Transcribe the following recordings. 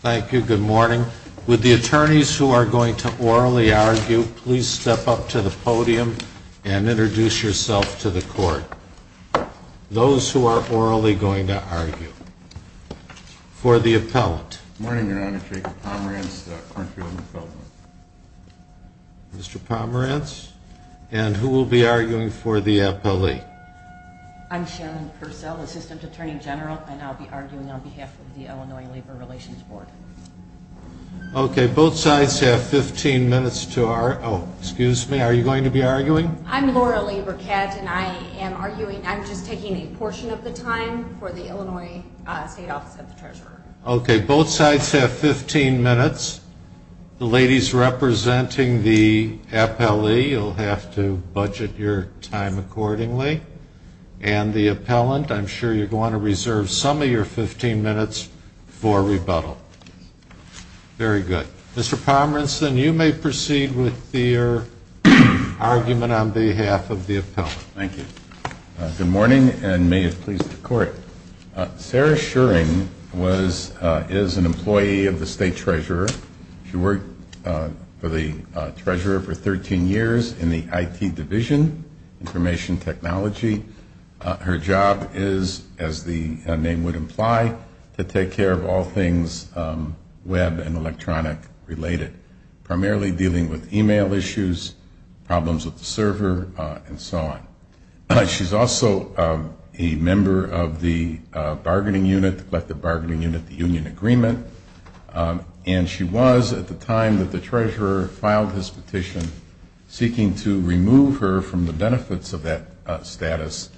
Thank you. Good morning. Would the attorneys who are going to orally argue please step up to the podium and introduce yourself to the court. Those who are orally going to argue. For the appellant. Good morning, Your Honor. Jacob Pomerantz, the country of the appellant. Mr. Pomerantz. And who will be arguing for the appellee? I'm Sharon Purcell, Assistant Attorney General, and I'll be arguing on behalf of the Illinois Labor Relations Board. Okay. Both sides have 15 minutes to argue. Oh, excuse me. Are you going to be arguing? I'm Laura Labor-Katz, and I am arguing. I'm just taking a portion of the time for the Illinois State Office of the Treasurer. Okay. Both sides have 15 minutes. The ladies representing the appellee, you'll have to budget your time accordingly. And the appellant, I'm sure you're going to reserve some of your 15 minutes for rebuttal. Very good. Mr. Pomerantz, you may proceed with your argument on behalf of the appellant. Thank you. Good morning, and may it please the Court. Sarah Shuring is an employee of the State Treasurer. She worked for the Treasurer for 13 years in the IT Division, Information Technology. Her job is, as the name would imply, to take care of all things web and electronic related, primarily dealing with email issues, problems with the server, and so on. She's also a member of the bargaining unit, the collective bargaining unit, the union agreement. And she was, at the time that the Treasurer filed his petition, seeking to remove her from the benefits of that status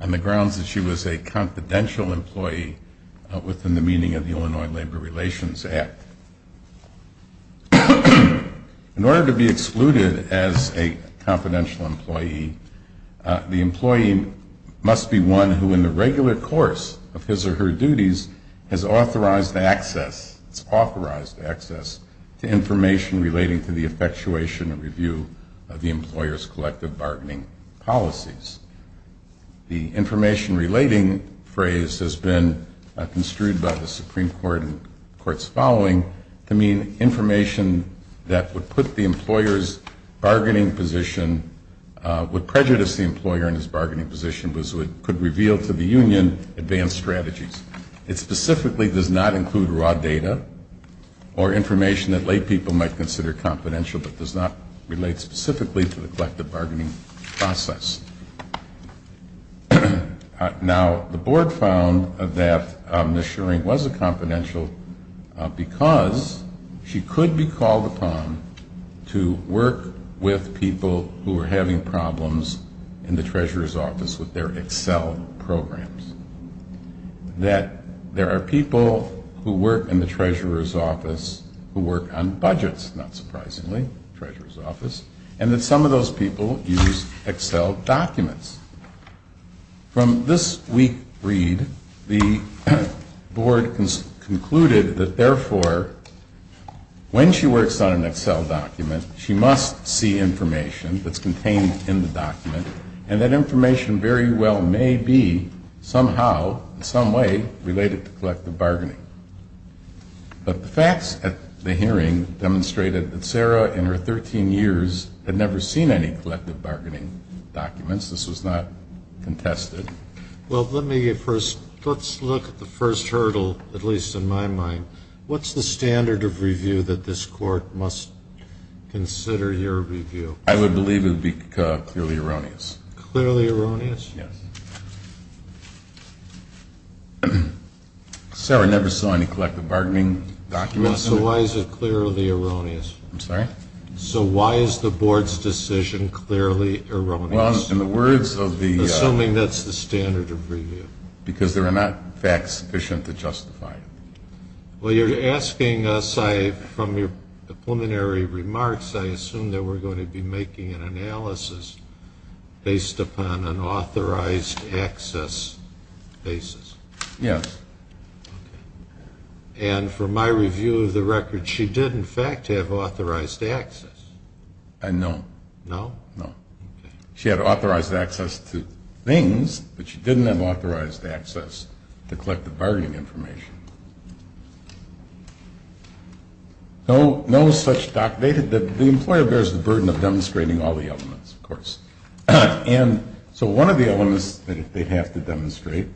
on the grounds that she was a confidential employee within the meaning of the Illinois Labor Relations Act. In order to be excluded as a confidential employee, the employee must be one who, in the regular course of his or her duties, has authorized access, it's authorized access, to information relating to the effectuation and review of the employer's collective bargaining policies. The information relating phrase has been construed by the Supreme Court in the courts following to mean information that would put the employer's bargaining position, would prejudice the employer in his bargaining position, could reveal to the union advanced strategies. It specifically does not include raw data or information that lay people might consider confidential, but does not relate specifically to the collective bargaining process. Now, the board found that Ms. Schering was a confidential because she could be called upon to work with people who were having problems in the Treasurer's office with their Excel programs. That there are people who work in the Treasurer's office who work on budgets, not surprisingly, Treasurer's office, and that some of those people use Excel documents. From this week read, the board concluded that, therefore, when she works on an Excel document, she must see information that's contained in the document, and that information very well may be somehow, in some way, related to collective bargaining. But the facts at the hearing demonstrated that Sarah, in her 13 years, had never seen any collective bargaining documents. This was not contested. Well, let's look at the first hurdle, at least in my mind. What's the standard of review that this court must consider your review? I would believe it would be clearly erroneous. Clearly erroneous? Yes. Sarah never saw any collective bargaining documents. So why is it clearly erroneous? I'm sorry? So why is the board's decision clearly erroneous? Well, in the words of the... Assuming that's the standard of review. Because there are not facts sufficient to justify it. Well, you're asking us, from your preliminary remarks, I assume that we're going to be making an analysis based upon an authorized access basis. Yes. And from my review of the record, she did, in fact, have authorized access. No. No? No. She had authorized access to things, but she didn't have authorized access to collective bargaining information. No such document. The employer bears the burden of demonstrating all the elements, of course. And so one of the elements that they have to demonstrate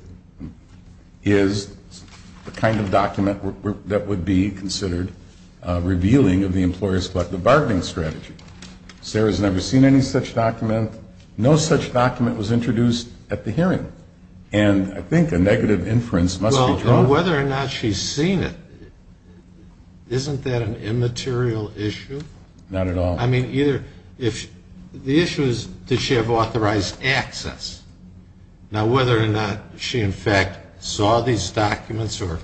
is the kind of document that would be considered revealing of the employer's collective bargaining strategy. Sarah's never seen any such document. No such document was introduced at the hearing. And I think a negative inference must be drawn. Well, whether or not she's seen it, isn't that an immaterial issue? Not at all. I mean, either... The issue is, did she have authorized access? Now, whether or not she, in fact, saw these documents or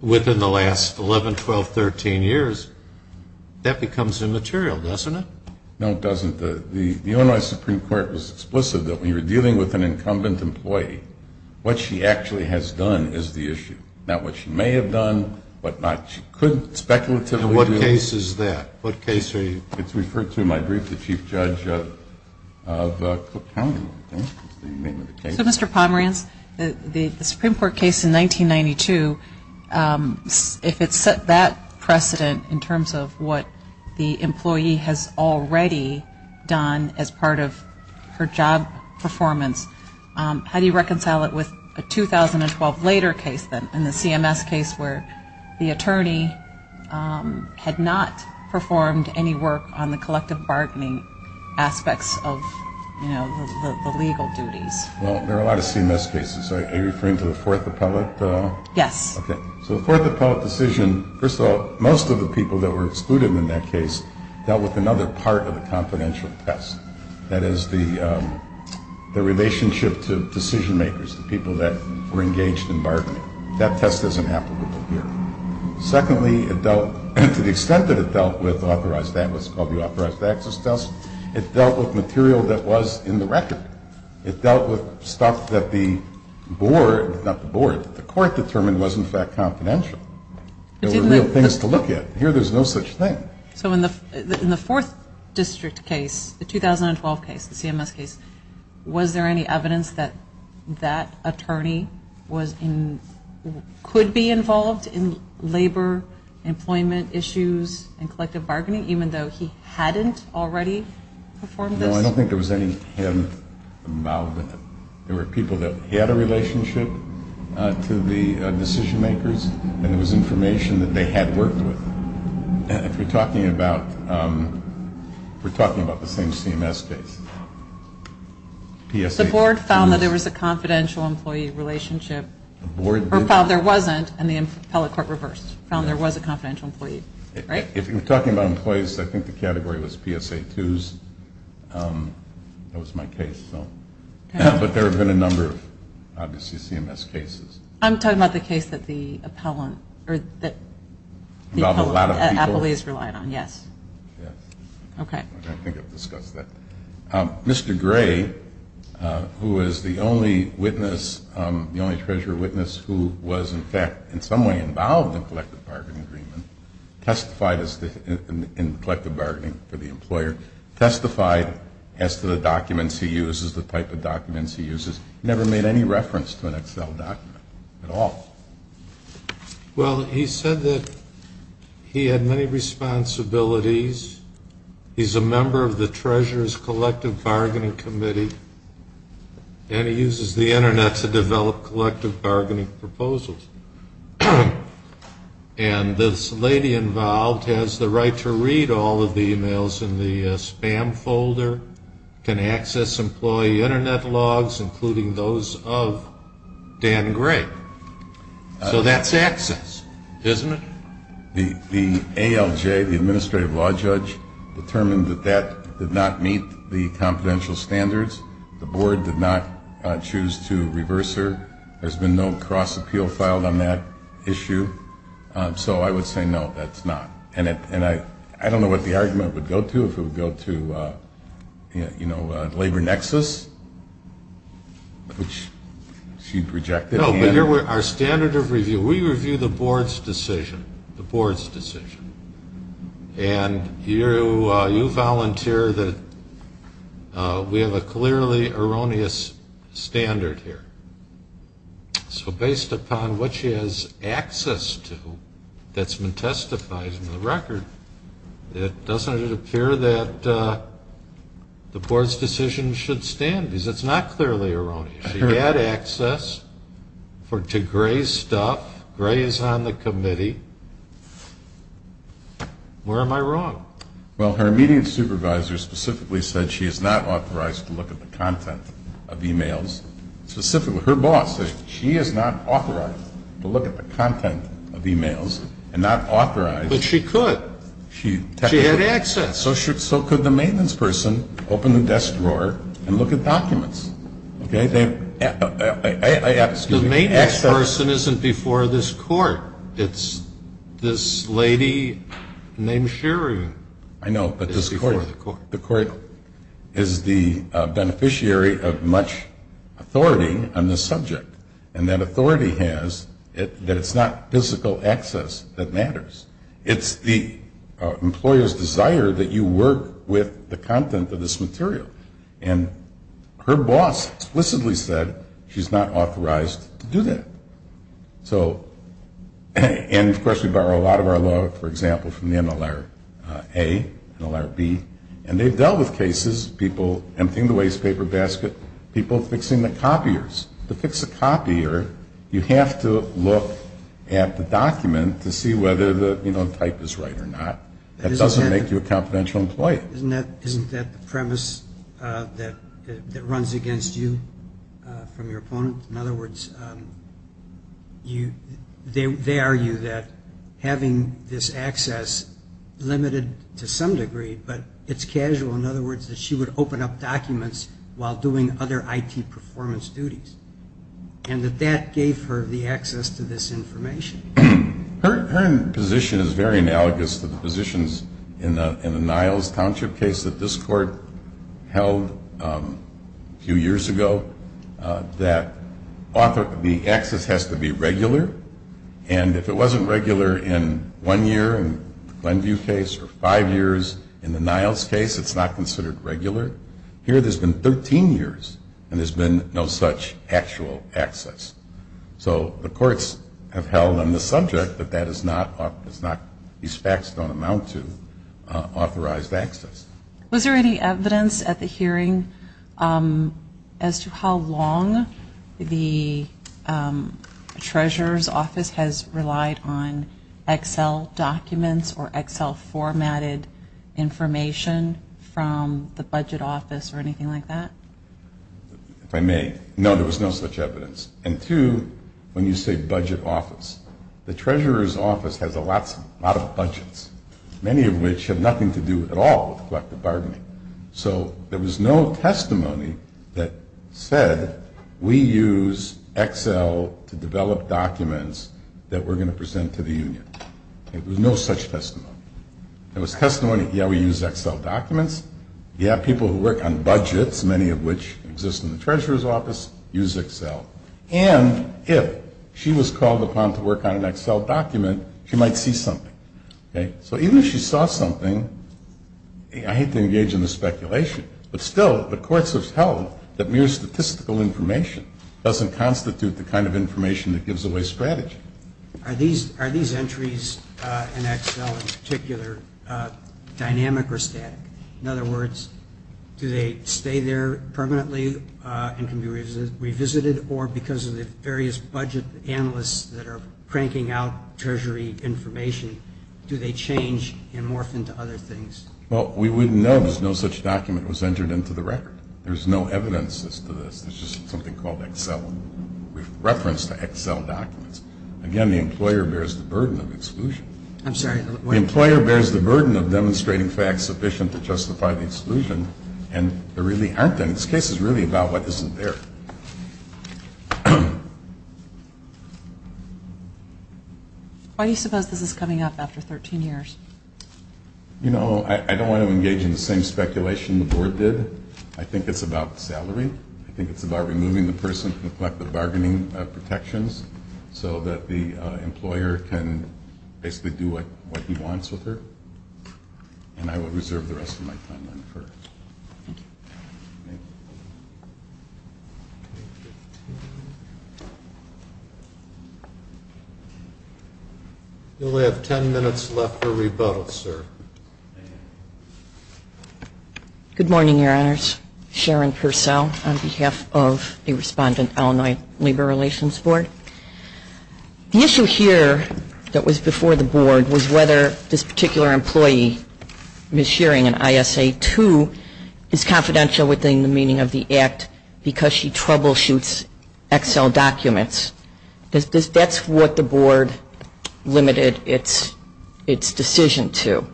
within the last 11, 12, 13 years, that becomes immaterial, doesn't it? No, it doesn't. The Illinois Supreme Court was explicit that when you're dealing with an incumbent employee, what she actually has done is the issue, not what she may have done, what not. She could speculatively do... And what case is that? What case are you... It's referred to in my brief, the Chief Judge of Cook County, I think, is the name of the case. So, Mr. Pomerantz, the Supreme Court case in 1992, if it set that precedent in terms of what the employee has already done as part of her job performance, how do you reconcile it with a 2012 later case, then, in the CMS case where the attorney had not performed any work on the collective bargaining aspects of, you know, the legal duties? Well, there are a lot of CMS cases. Are you referring to the Fourth Appellate? Yes. Okay. So the Fourth Appellate decision, first of all, most of the people that were excluded in that case dealt with another part of the confidential test. That is the relationship to decision makers, the people that were engaged in bargaining. That test doesn't happen over here. Secondly, it dealt... To the extent that it dealt with authorized... That was called the authorized access test. It dealt with material that was in the record. It dealt with stuff that the board... Not the board. The court determined was, in fact, confidential. There were real things to look at. Here, there's no such thing. So in the Fourth District case, the 2012 case, the CMS case, was there any evidence that that attorney was in... Could be involved in labor, employment issues, and collective bargaining, even though he hadn't already performed this? No, I don't think there was any hint about that. There were people that had a relationship to the decision makers, and it was information that they had worked with. If we're talking about the same CMS case... The board found that there was a confidential employee relationship. Or found there wasn't, and the appellate court reversed. Found there was a confidential employee. If we're talking about employees, I think the category was PSA 2s. That was my case. But there have been a number of, obviously, CMS cases. I'm talking about the case that the appellant or that the appellate has relied on, yes. Yes. Okay. I think I've discussed that. Mr. Gray, who is the only witness, the only treasurer witness, who was, in fact, in some way involved in collective bargaining agreement, testified in collective bargaining for the employer, testified as to the documents he uses, the type of documents he uses. Never made any reference to an Excel document at all. Well, he said that he had many responsibilities. He's a member of the Treasurer's Collective Bargaining Committee, and he uses the Internet to develop collective bargaining proposals. And this lady involved has the right to read all of the emails in the spam folder, can access employee Internet logs, including those of Dan Gray. So that's access, isn't it? The ALJ, the administrative law judge, determined that that did not meet the confidential standards. The board did not choose to reverse her. There's been no cross-appeal filed on that issue. So I would say, no, that's not. And I don't know what the argument would go to, if it would go to, you know, labor nexus, which she rejected. No, but our standard of review, we review the board's decision, the board's decision. And you volunteer that we have a clearly erroneous standard here. So based upon what she has access to that's been testified in the record, doesn't it appear that the board's decision should stand? Because it's not clearly erroneous. She had access to Gray's stuff. Gray is on the committee. Where am I wrong? Well, her immediate supervisor specifically said she is not authorized to look at the content of emails. Specifically, her boss said she is not authorized to look at the content of emails and not authorized. But she could. She had access. So could the maintenance person open the desk drawer and look at documents. The maintenance person isn't before this court. It's this lady named Sherry. I know. The court is the beneficiary of much authority on this subject. And that authority has, that it's not physical access that matters. It's the employer's desire that you work with the content of this material. And her boss explicitly said she's not authorized to do that. And, of course, we borrow a lot of our law, for example, from the NLRA, NLRB. And they've dealt with cases, people emptying the waste paper basket, people fixing the copiers. To fix a copier, you have to look at the document to see whether the type is right or not. That doesn't make you a confidential employee. Isn't that the premise that runs against you from your opponent? In other words, they argue that having this access limited to some degree, but it's casual. In other words, that she would open up documents while doing other IT performance duties. And that that gave her the access to this information. Her position is very analogous to the positions in the Niles Township case that this court held a few years ago. That the access has to be regular. And if it wasn't regular in one year in the Glenview case or five years in the Niles case, it's not considered regular. Here there's been 13 years and there's been no such actual access. So the courts have held on the subject that these facts don't amount to authorized access. Was there any evidence at the hearing as to how long the treasurer's office has relied on Excel documents or Excel formatted information from the budget office or anything like that? If I may, no, there was no such evidence. And two, when you say budget office, the treasurer's office has a lot of budgets. Many of which have nothing to do at all with collective bargaining. So there was no testimony that said we use Excel to develop documents that we're going to present to the union. There was no such testimony. There was testimony, yeah, we use Excel documents. Yeah, people who work on budgets, many of which exist in the treasurer's office, use Excel. And if she was called upon to work on an Excel document, she might see something. So even if she saw something, I hate to engage in the speculation, but still the courts have held that mere statistical information doesn't constitute the kind of information that gives away strategy. Are these entries in Excel in particular dynamic or static? In other words, do they stay there permanently and can be revisited, or because of the various budget analysts that are cranking out treasury information, do they change and morph into other things? Well, we wouldn't know if no such document was entered into the record. There's no evidence as to this. It's just something called Excel. We've referenced the Excel documents. Again, the employer bears the burden of exclusion. I'm sorry. The employer bears the burden of demonstrating facts sufficient to justify the exclusion, and there really aren't any. This case is really about what isn't there. Why do you suppose this is coming up after 13 years? You know, I don't want to engage in the same speculation the board did. I think it's about salary. I think it's about removing the person from the collective bargaining protections so that the employer can basically do what he wants with her. And I will reserve the rest of my time on her. Thank you. We only have 10 minutes left for rebuttals, sir. Good morning, Your Honors. Sharon Purcell on behalf of the respondent, Illinois Labor Relations Board. The issue here that was before the board was whether this particular employee, Ms. Shearing, in ISA 2 is confidential within the meaning of the act because she troubleshoots Excel documents. That's what the board limited its decision to,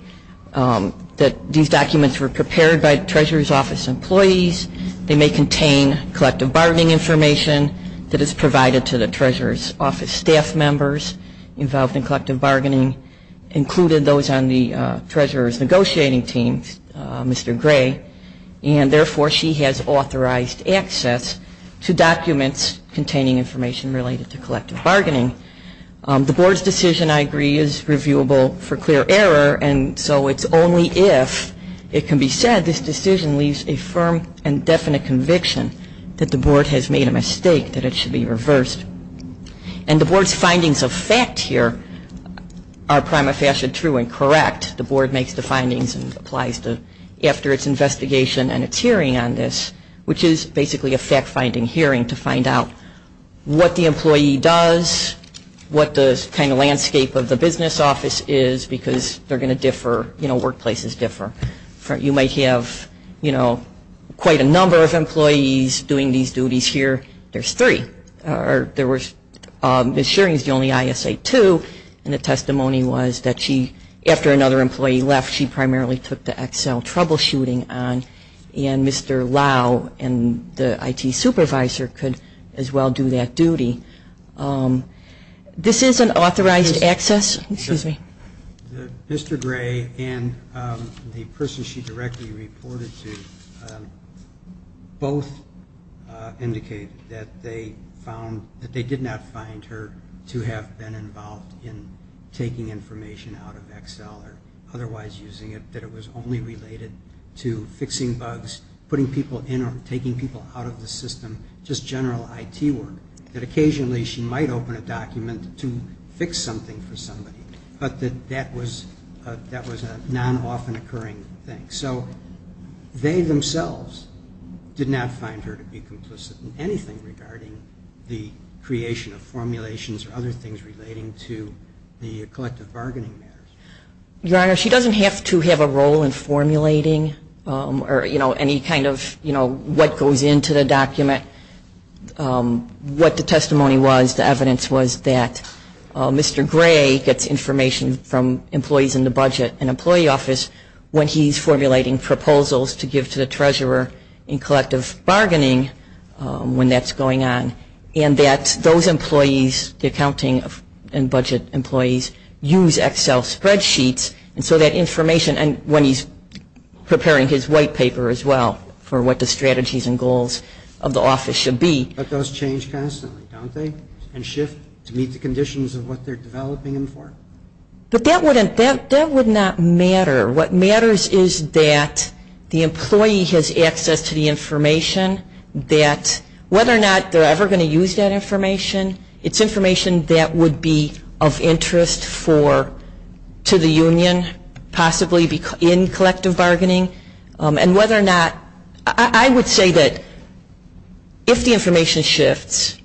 that these documents were prepared by the Treasurer's Office employees. They may contain collective bargaining information that is provided to the Treasurer's Office staff members involved in collective bargaining, including those on the Treasurer's negotiating team, Mr. Gray, and therefore she has authorized access to documents containing information related to collective bargaining. The board's decision, I agree, is reviewable for clear error, and so it's only if it can be said this decision leaves a firm and definite conviction that the board has made a mistake, that it should be reversed. And the board's findings of fact here are prima facie true and correct. The board makes the findings and applies them after its investigation and its hearing on this, which is basically a fact-finding hearing to find out what the employee does, what the kind of landscape of the business office is, because they're going to differ, you know, workplaces differ. You might have, you know, quite a number of employees doing these duties here. There's three. Ms. Shearing is the only ISA 2, and the testimony was that she, after another employee left, she primarily took the Excel troubleshooting on, and Mr. Lau and the IT supervisor could as well do that duty. This is an authorized access. Excuse me. Mr. Gray and the person she directly reported to both indicated that they found, that they did not find her to have been involved in taking information out of Excel or otherwise using it, that it was only related to fixing bugs, putting people in or taking people out of the system, just general IT work. That occasionally she might open a document to fix something for somebody, but that that was a non-often occurring thing. So they themselves did not find her to be complicit in anything regarding the creation of formulations or other things relating to the collective bargaining matters. Your Honor, she doesn't have to have a role in formulating or, you know, any kind of, you know, what goes into the document. What the testimony was, the evidence was that Mr. Gray gets information from employees in the budget and employee office when he's formulating proposals to give to the treasurer in collective bargaining when that's going on. And that those employees, the accounting and budget employees, use Excel spreadsheets and so that information, and when he's preparing his white paper as well for what the strategies and goals of the office should be. But those change constantly, don't they? And shift to meet the conditions of what they're developing them for? But that wouldn't, that would not matter. What matters is that the employee has access to the information, that whether or not they're ever going to use that information, it's information that would be of interest for, to the union, possibly in collective bargaining. And whether or not, I would say that if the information shifts,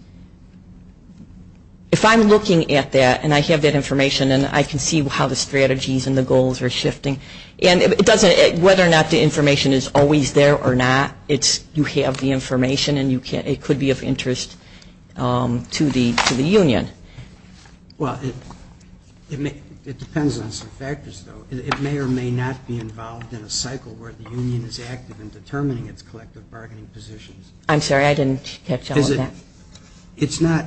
if I'm looking at that and I have that information and I can see how the strategies and the goals are shifting, and it doesn't, whether or not the information is always there or not, you have the information and it could be of interest to the union. Well, it depends on some factors, though. It may or may not be involved in a cycle where the union is active in determining its collective bargaining positions. I'm sorry, I didn't catch all of that. It's not,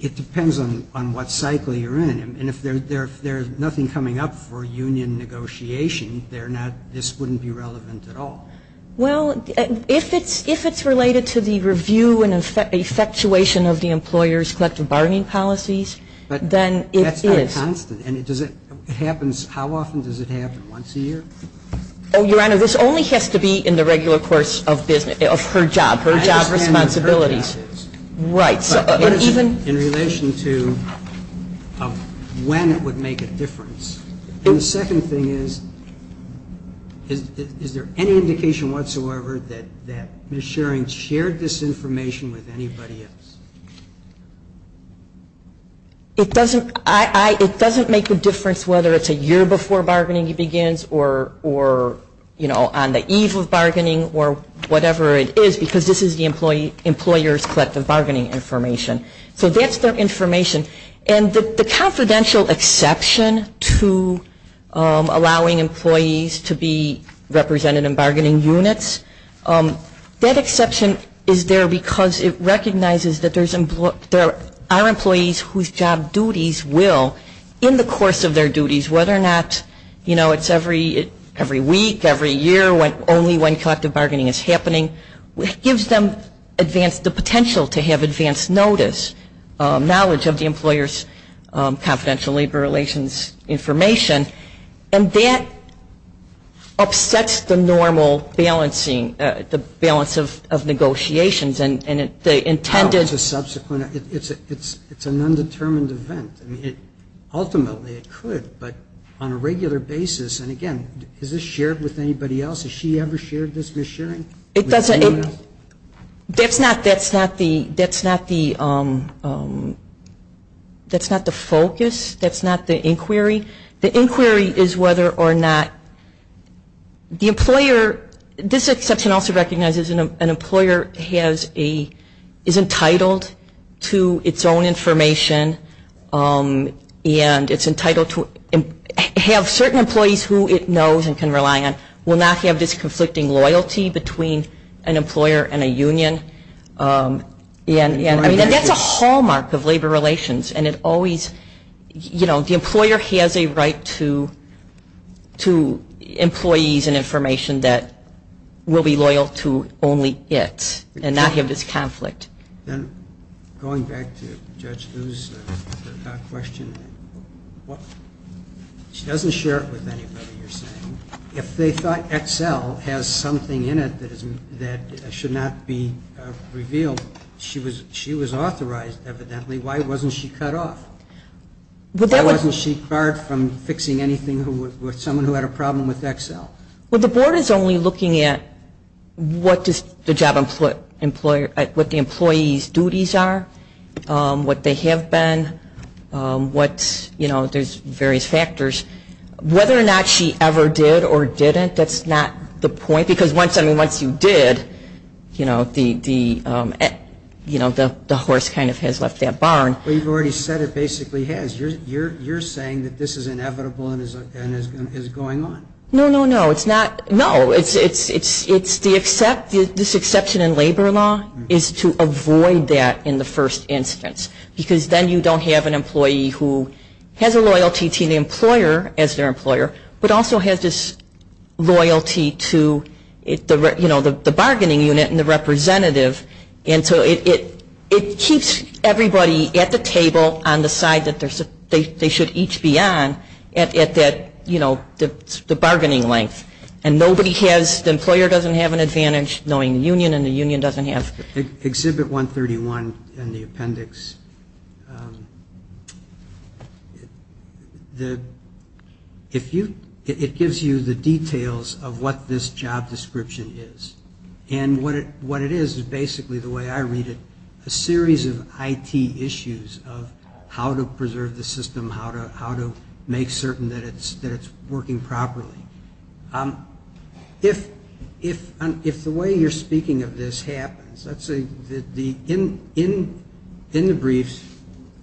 it depends on what cycle you're in. And if there's nothing coming up for union negotiation, they're not, this wouldn't be relevant at all. Well, if it's related to the review and effectuation of the employer's collective bargaining policies, then it is. But that's not constant. And does it, it happens, how often does it happen? Once a year? Oh, Your Honor, this only has to be in the regular course of her job, her job responsibilities. Right. In relation to when it would make a difference. The second thing is, is there any indication whatsoever that Ms. Sherring shared this information with anybody else? It doesn't make a difference whether it's a year before bargaining begins or, you know, on the eve of bargaining or whatever it is, because this is the employer's collective bargaining information. So that's their information. And the confidential exception to allowing employees to be represented in bargaining units, that exception is there because it recognizes that there are employees whose job duties will, in the course of their duties, whether or not, you know, it's every week, every year, only when collective bargaining is happening. It gives them advance, the potential to have advance notice, knowledge of the employer's confidential labor relations information. And that upsets the normal balancing, the balance of negotiations. And the intended It's a subsequent, it's an undetermined event. Ultimately it could, but on a regular basis, and again, has this shared with anybody else? Has she ever shared this with Sherring? That's not the focus. That's not the inquiry. The inquiry is whether or not the employer, this exception also recognizes an employer is entitled to its own information and it's entitled to have certain employees who it knows and can rely on will not have this conflicting loyalty between an employer and a union. And that's a hallmark of labor relations. And it always, you know, the employer has a right to employees and information that will be loyal to only it and not have this conflict. Then going back to Judge Liu's question, she doesn't share it with anybody, you're saying. If they thought XL has something in it that should not be revealed, she was authorized evidently. Why wasn't she cut off? Why wasn't she barred from fixing anything with someone who had a problem with XL? Well, the board is only looking at what the employee's duties are, what they have been, what, you know, there's various factors. Whether or not she ever did or didn't, that's not the point. Because once you did, you know, the horse kind of has left that barn. Well, you've already said it basically has. You're saying that this is inevitable and is going on. No, no, no. It's not. No. It's the exception in labor law is to avoid that in the first instance. Because then you don't have an employee who has a loyalty to the employer as their employer but also has this loyalty to, you know, the bargaining unit and the representative. And so it keeps everybody at the table on the side that they should each be on at that, you know, the bargaining length. And nobody has, the employer doesn't have an advantage knowing the union and the union doesn't have. Exhibit 131 in the appendix, it gives you the details of what this job description is. And what it is is basically the way I read it, a series of IT issues of how to preserve the system, how to make certain that it's working properly. If the way you're speaking of this happens, in the briefs,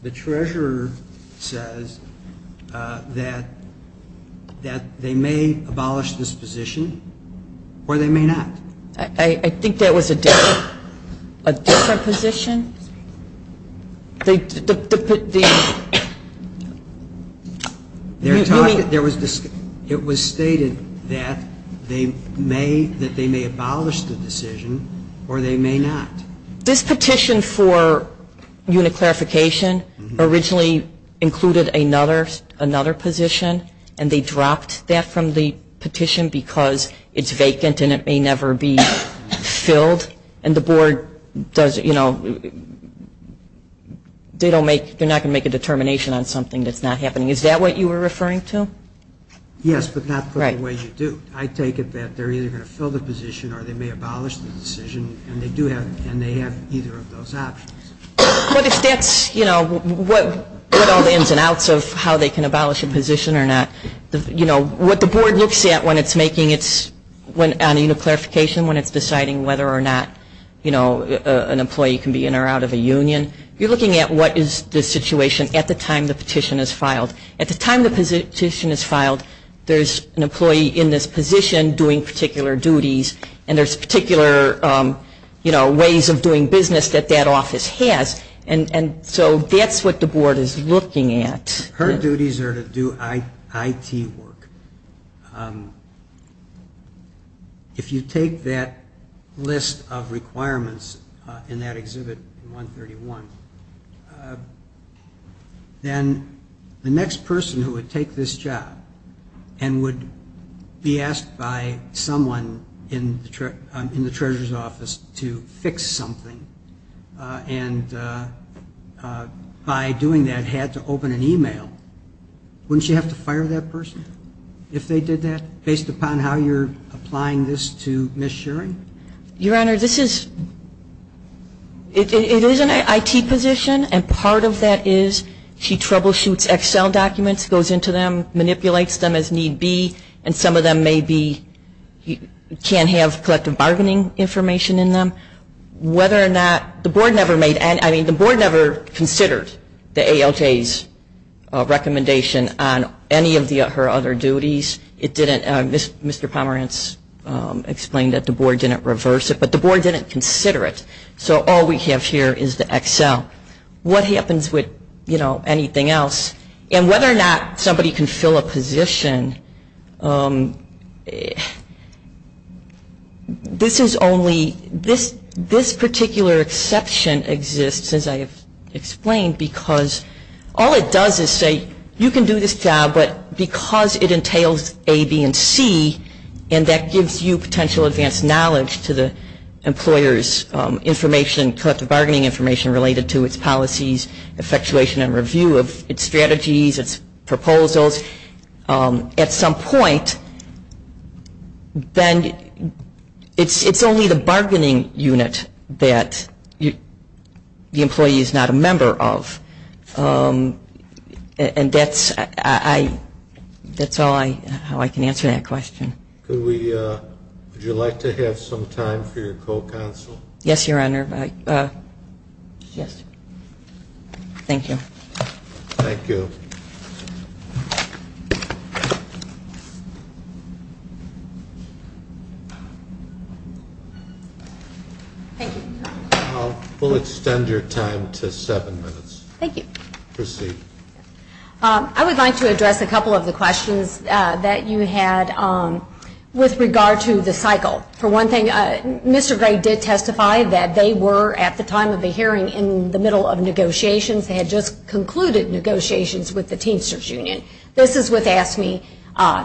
the treasurer says that they may abolish this position or they may not. I think that was a different position. It was stated that they may abolish the decision or they may not. This petition for unit clarification originally included another position and they dropped that from the petition because it's vacant and it may never be filled and the board does, you know, they don't make, they're not going to make a determination on something that's not happening. Is that what you were referring to? Yes, but not put the way you do. I take it that they're either going to fill the position or they may abolish the decision and they do have, and they have either of those options. But if that's, you know, what all the ins and outs of how they can abolish a position or not, you know, what the board looks at when it's making its, on a unit clarification, when it's deciding whether or not, you know, an employee can be in or out of a union, you're looking at what is the situation at the time the petition is filed. At the time the petition is filed, there's an employee in this position doing particular duties and there's particular, you know, ways of doing business that that office has and so that's what the board is looking at. Her duties are to do IT work. If you take that list of requirements in that Exhibit 131, then the next person who would take this job and would be asked by someone in the treasurer's office to fix something and by doing that had to open an email, wouldn't you have to fire that person if they did that, based upon how you're applying this to mis-sharing? Your Honor, this is, it is an IT position and part of that is she troubleshoots Excel documents, goes into them, manipulates them as need be, and some of them may be, can have collective bargaining information in them. Whether or not, the board never made, I mean the board never considered the ALJ's recommendation on any of her other duties. It didn't, Mr. Pomerantz explained that the board didn't reverse it, but the board didn't consider it. So all we have here is the Excel. What happens with, you know, anything else? And whether or not somebody can fill a position, this is only, this particular exception exists, as I have explained, because all it does is say, you can do this job, but because it entails A, B, and C, and that gives you potential advanced knowledge to the employer's information, collective bargaining information related to its policies, effectuation and review of its strategies, its proposals, at some point, then it's only the bargaining unit that the employee is not a member of. And that's all I, how I can answer that question. Could we, would you like to have some time for your co-counsel? Yes, Your Honor. Yes. Thank you. Thank you. Thank you. We'll extend your time to seven minutes. Thank you. Proceed. I would like to address a couple of the questions that you had with regard to the cycle. For one thing, Mr. Gray did testify that they were, at the time of the hearing, in the middle of negotiations. They had just concluded negotiations with the Teamsters Union. This is with AFSCME.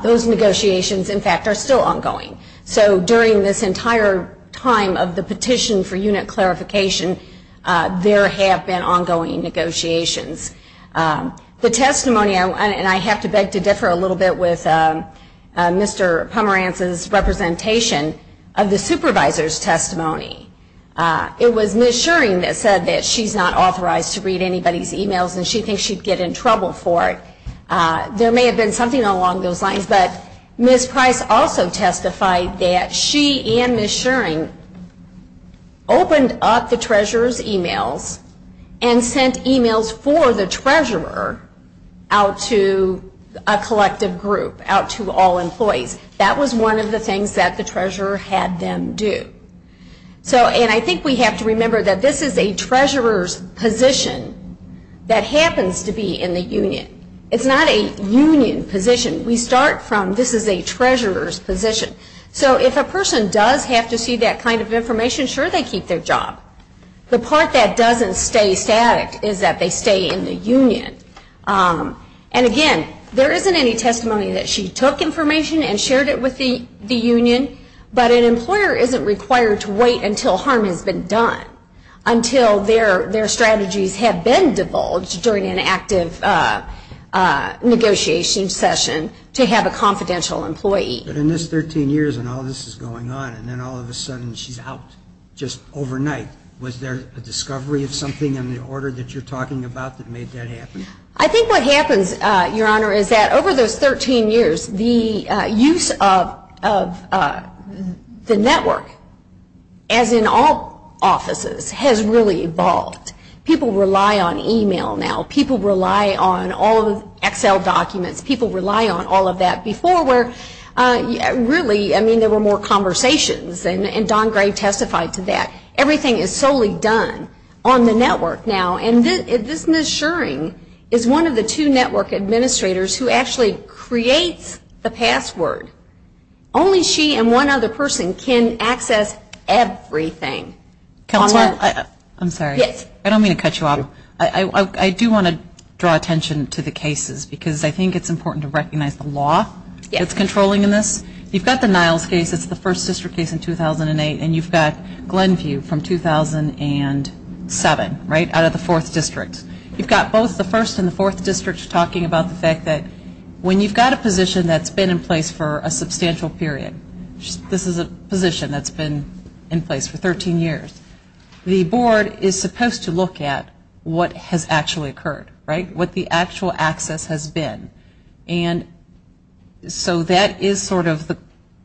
Those negotiations, in fact, are still ongoing. So during this entire time of the petition for unit clarification, there have been ongoing negotiations. The testimony, and I have to beg to differ a little bit with Mr. Pomerantz's representation, of the supervisor's testimony, it was Ms. Shuring that said that she's not authorized to read anybody's e-mails and she thinks she'd get in trouble for it. There may have been something along those lines, but Ms. Price also testified that she and Ms. Shuring opened up the treasurer's e-mails and sent e-mails for the treasurer out to a collective group, out to all employees. That was one of the things that the treasurer had them do. And I think we have to remember that this is a treasurer's position that happens to be in the union. It's not a union position. We start from this is a treasurer's position. So if a person does have to see that kind of information, sure, they keep their job. The part that doesn't stay static is that they stay in the union. And again, there isn't any testimony that she took information and shared it with the union, but an employer isn't required to wait until harm has been done, until their strategies have been divulged during an active negotiation session, to have a confidential employee. But in this 13 years and all this is going on, and then all of a sudden she's out, just overnight. Was there a discovery of something in the order that you're talking about that made that happen? I think what happens, Your Honor, is that over those 13 years, the use of the network, as in all offices, has really evolved. People rely on e-mail now. People rely on all of the Excel documents. People rely on all of that before where really, I mean, there were more conversations. And Don Gray testified to that. Everything is solely done on the network now. And this Ms. Schering is one of the two network administrators who actually creates the password. Only she and one other person can access everything. Counselor, I'm sorry. Yes. I don't mean to cut you off. I do want to draw attention to the cases because I think it's important to recognize the law that's controlling this. You've got the Niles case. It's the first district case in 2008. And you've got Glenview from 2007, right, out of the fourth district. You've got both the first and the fourth districts talking about the fact that when you've got a position that's been in place for a substantial period, this is a position that's been in place for 13 years, the board is supposed to look at what has actually occurred, right, what the actual access has been. And so that is sort of the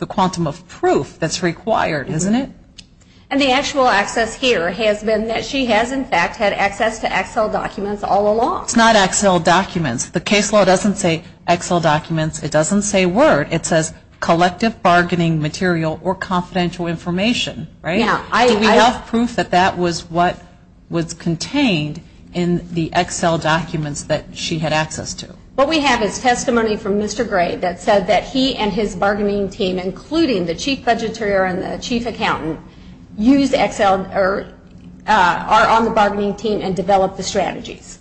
quantum of proof that's required, isn't it? And the actual access here has been that she has, in fact, had access to Excel documents all along. It's not Excel documents. The case law doesn't say Excel documents. It doesn't say word. It says collective bargaining material or confidential information, right? Do we have proof that that was what was contained in the Excel documents that she had access to? What we have is testimony from Mr. Gray that said that he and his bargaining team, including the chief budgeteer and the chief accountant, are on the bargaining team and develop the strategies.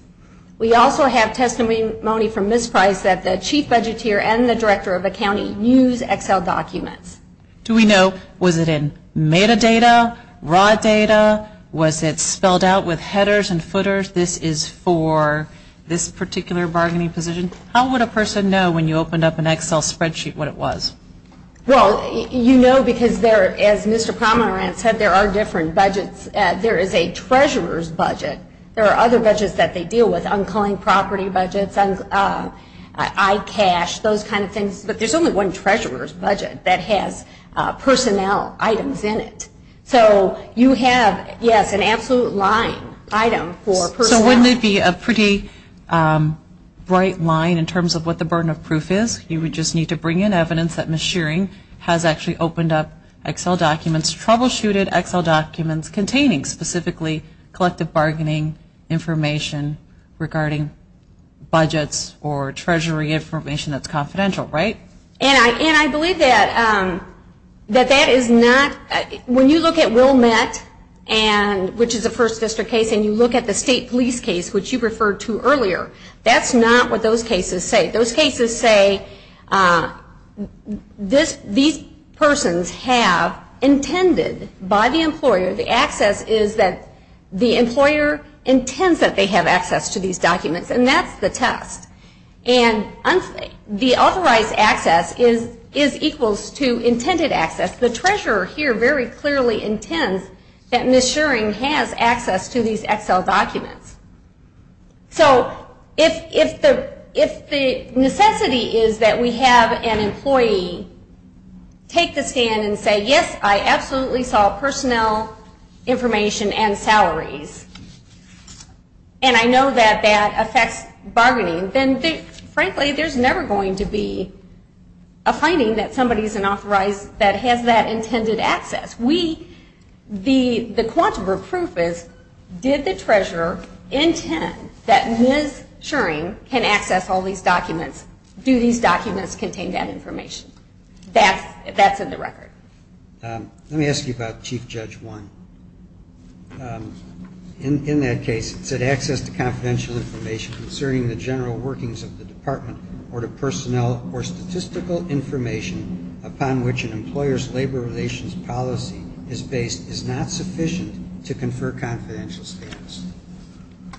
We also have testimony from Ms. Price that the chief budgeteer and the director of accounting use Excel documents. Do we know, was it in metadata, raw data? Was it spelled out with headers and footers? This is for this particular bargaining position. How would a person know when you opened up an Excel spreadsheet what it was? Well, you know because there, as Mr. Pomerantz said, there are different budgets. There is a treasurer's budget. There are other budgets that they deal with, uncalling property budgets, ICASH, those kind of things. But there's only one treasurer's budget that has personnel items in it. So you have, yes, an absolute line item for personnel. So wouldn't it be a pretty bright line in terms of what the burden of proof is? You would just need to bring in evidence that Ms. Shearing has actually opened up Excel documents, troubleshooted Excel documents containing specifically collective bargaining information regarding budgets or treasury information that's confidential, right? And I believe that that is not, when you look at Wilmette, which is a first district case, and you look at the state police case, which you referred to earlier, that's not what those cases say. Those cases say these persons have intended by the employer, the access is that the employer intends that they have access to these documents, and that's the test. And the authorized access is equals to intended access. The treasurer here very clearly intends that Ms. Shearing has access to these Excel documents. So if the necessity is that we have an employee take the stand and say, yes, I absolutely saw personnel information and salaries, and I know that that affects bargaining, then frankly there's never going to be a finding that somebody is an authorized, that has that intended access. We, the quantum of proof is, did the treasurer intend that Ms. Shearing can access all these documents? Do these documents contain that information? That's in the record. Let me ask you about Chief Judge 1. In that case, it said access to confidential information concerning the general workings of the department or to personnel or statistical information upon which an employer's labor relations policy is based is not sufficient to confer confidential status.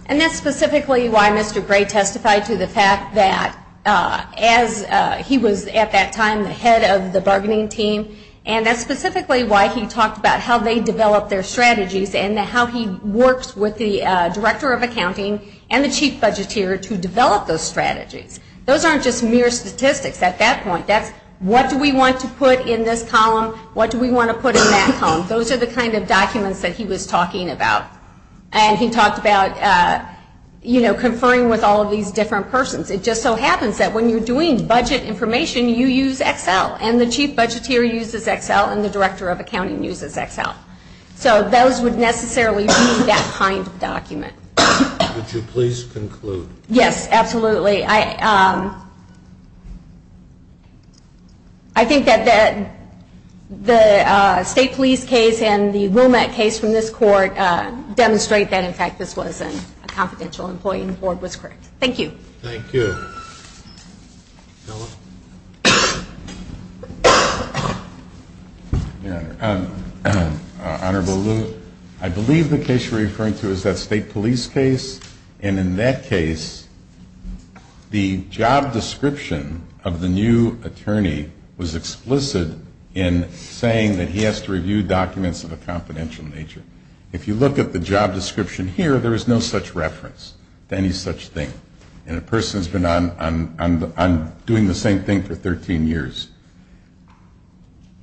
And that's specifically why Mr. Gray testified to the fact that as he was at that time the head of the bargaining team, and that's specifically why he talked about how they develop their strategies and how he works with the Director of Accounting and the Chief Budgeteer to develop those strategies. Those aren't just mere statistics at that point. That's what do we want to put in this column, what do we want to put in that column. Those are the kind of documents that he was talking about. And he talked about, you know, conferring with all of these different persons. It just so happens that when you're doing budget information you use Excel and the Chief Budgeteer uses Excel and the Director of Accounting uses Excel. So those would necessarily be that kind of document. Would you please conclude? Yes, absolutely. I think that the State Police case and the Wilmette case from this court demonstrate that, in fact, this was a confidential employee and the board was correct. Thank you. Thank you. Bill? Your Honor, Honorable Lou, I believe the case you're referring to is that State Police case. And in that case the job description of the new attorney was explicit in saying that he has to review documents of a confidential nature. If you look at the job description here, there is no such reference to any such thing. And the person has been on doing the same thing for 13 years.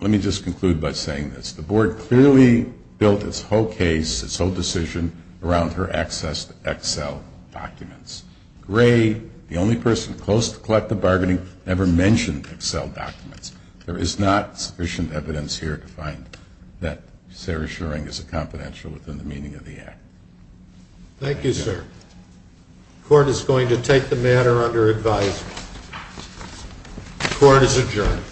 Let me just conclude by saying this. The board clearly built its whole case, its whole decision around her access to Excel documents. Gray, the only person close to collective bargaining, never mentioned Excel documents. There is not sufficient evidence here to find that Sarah Schering is a confidential within the meaning of the act. Thank you, sir. The court is going to take the matter under advisory. The court is adjourned.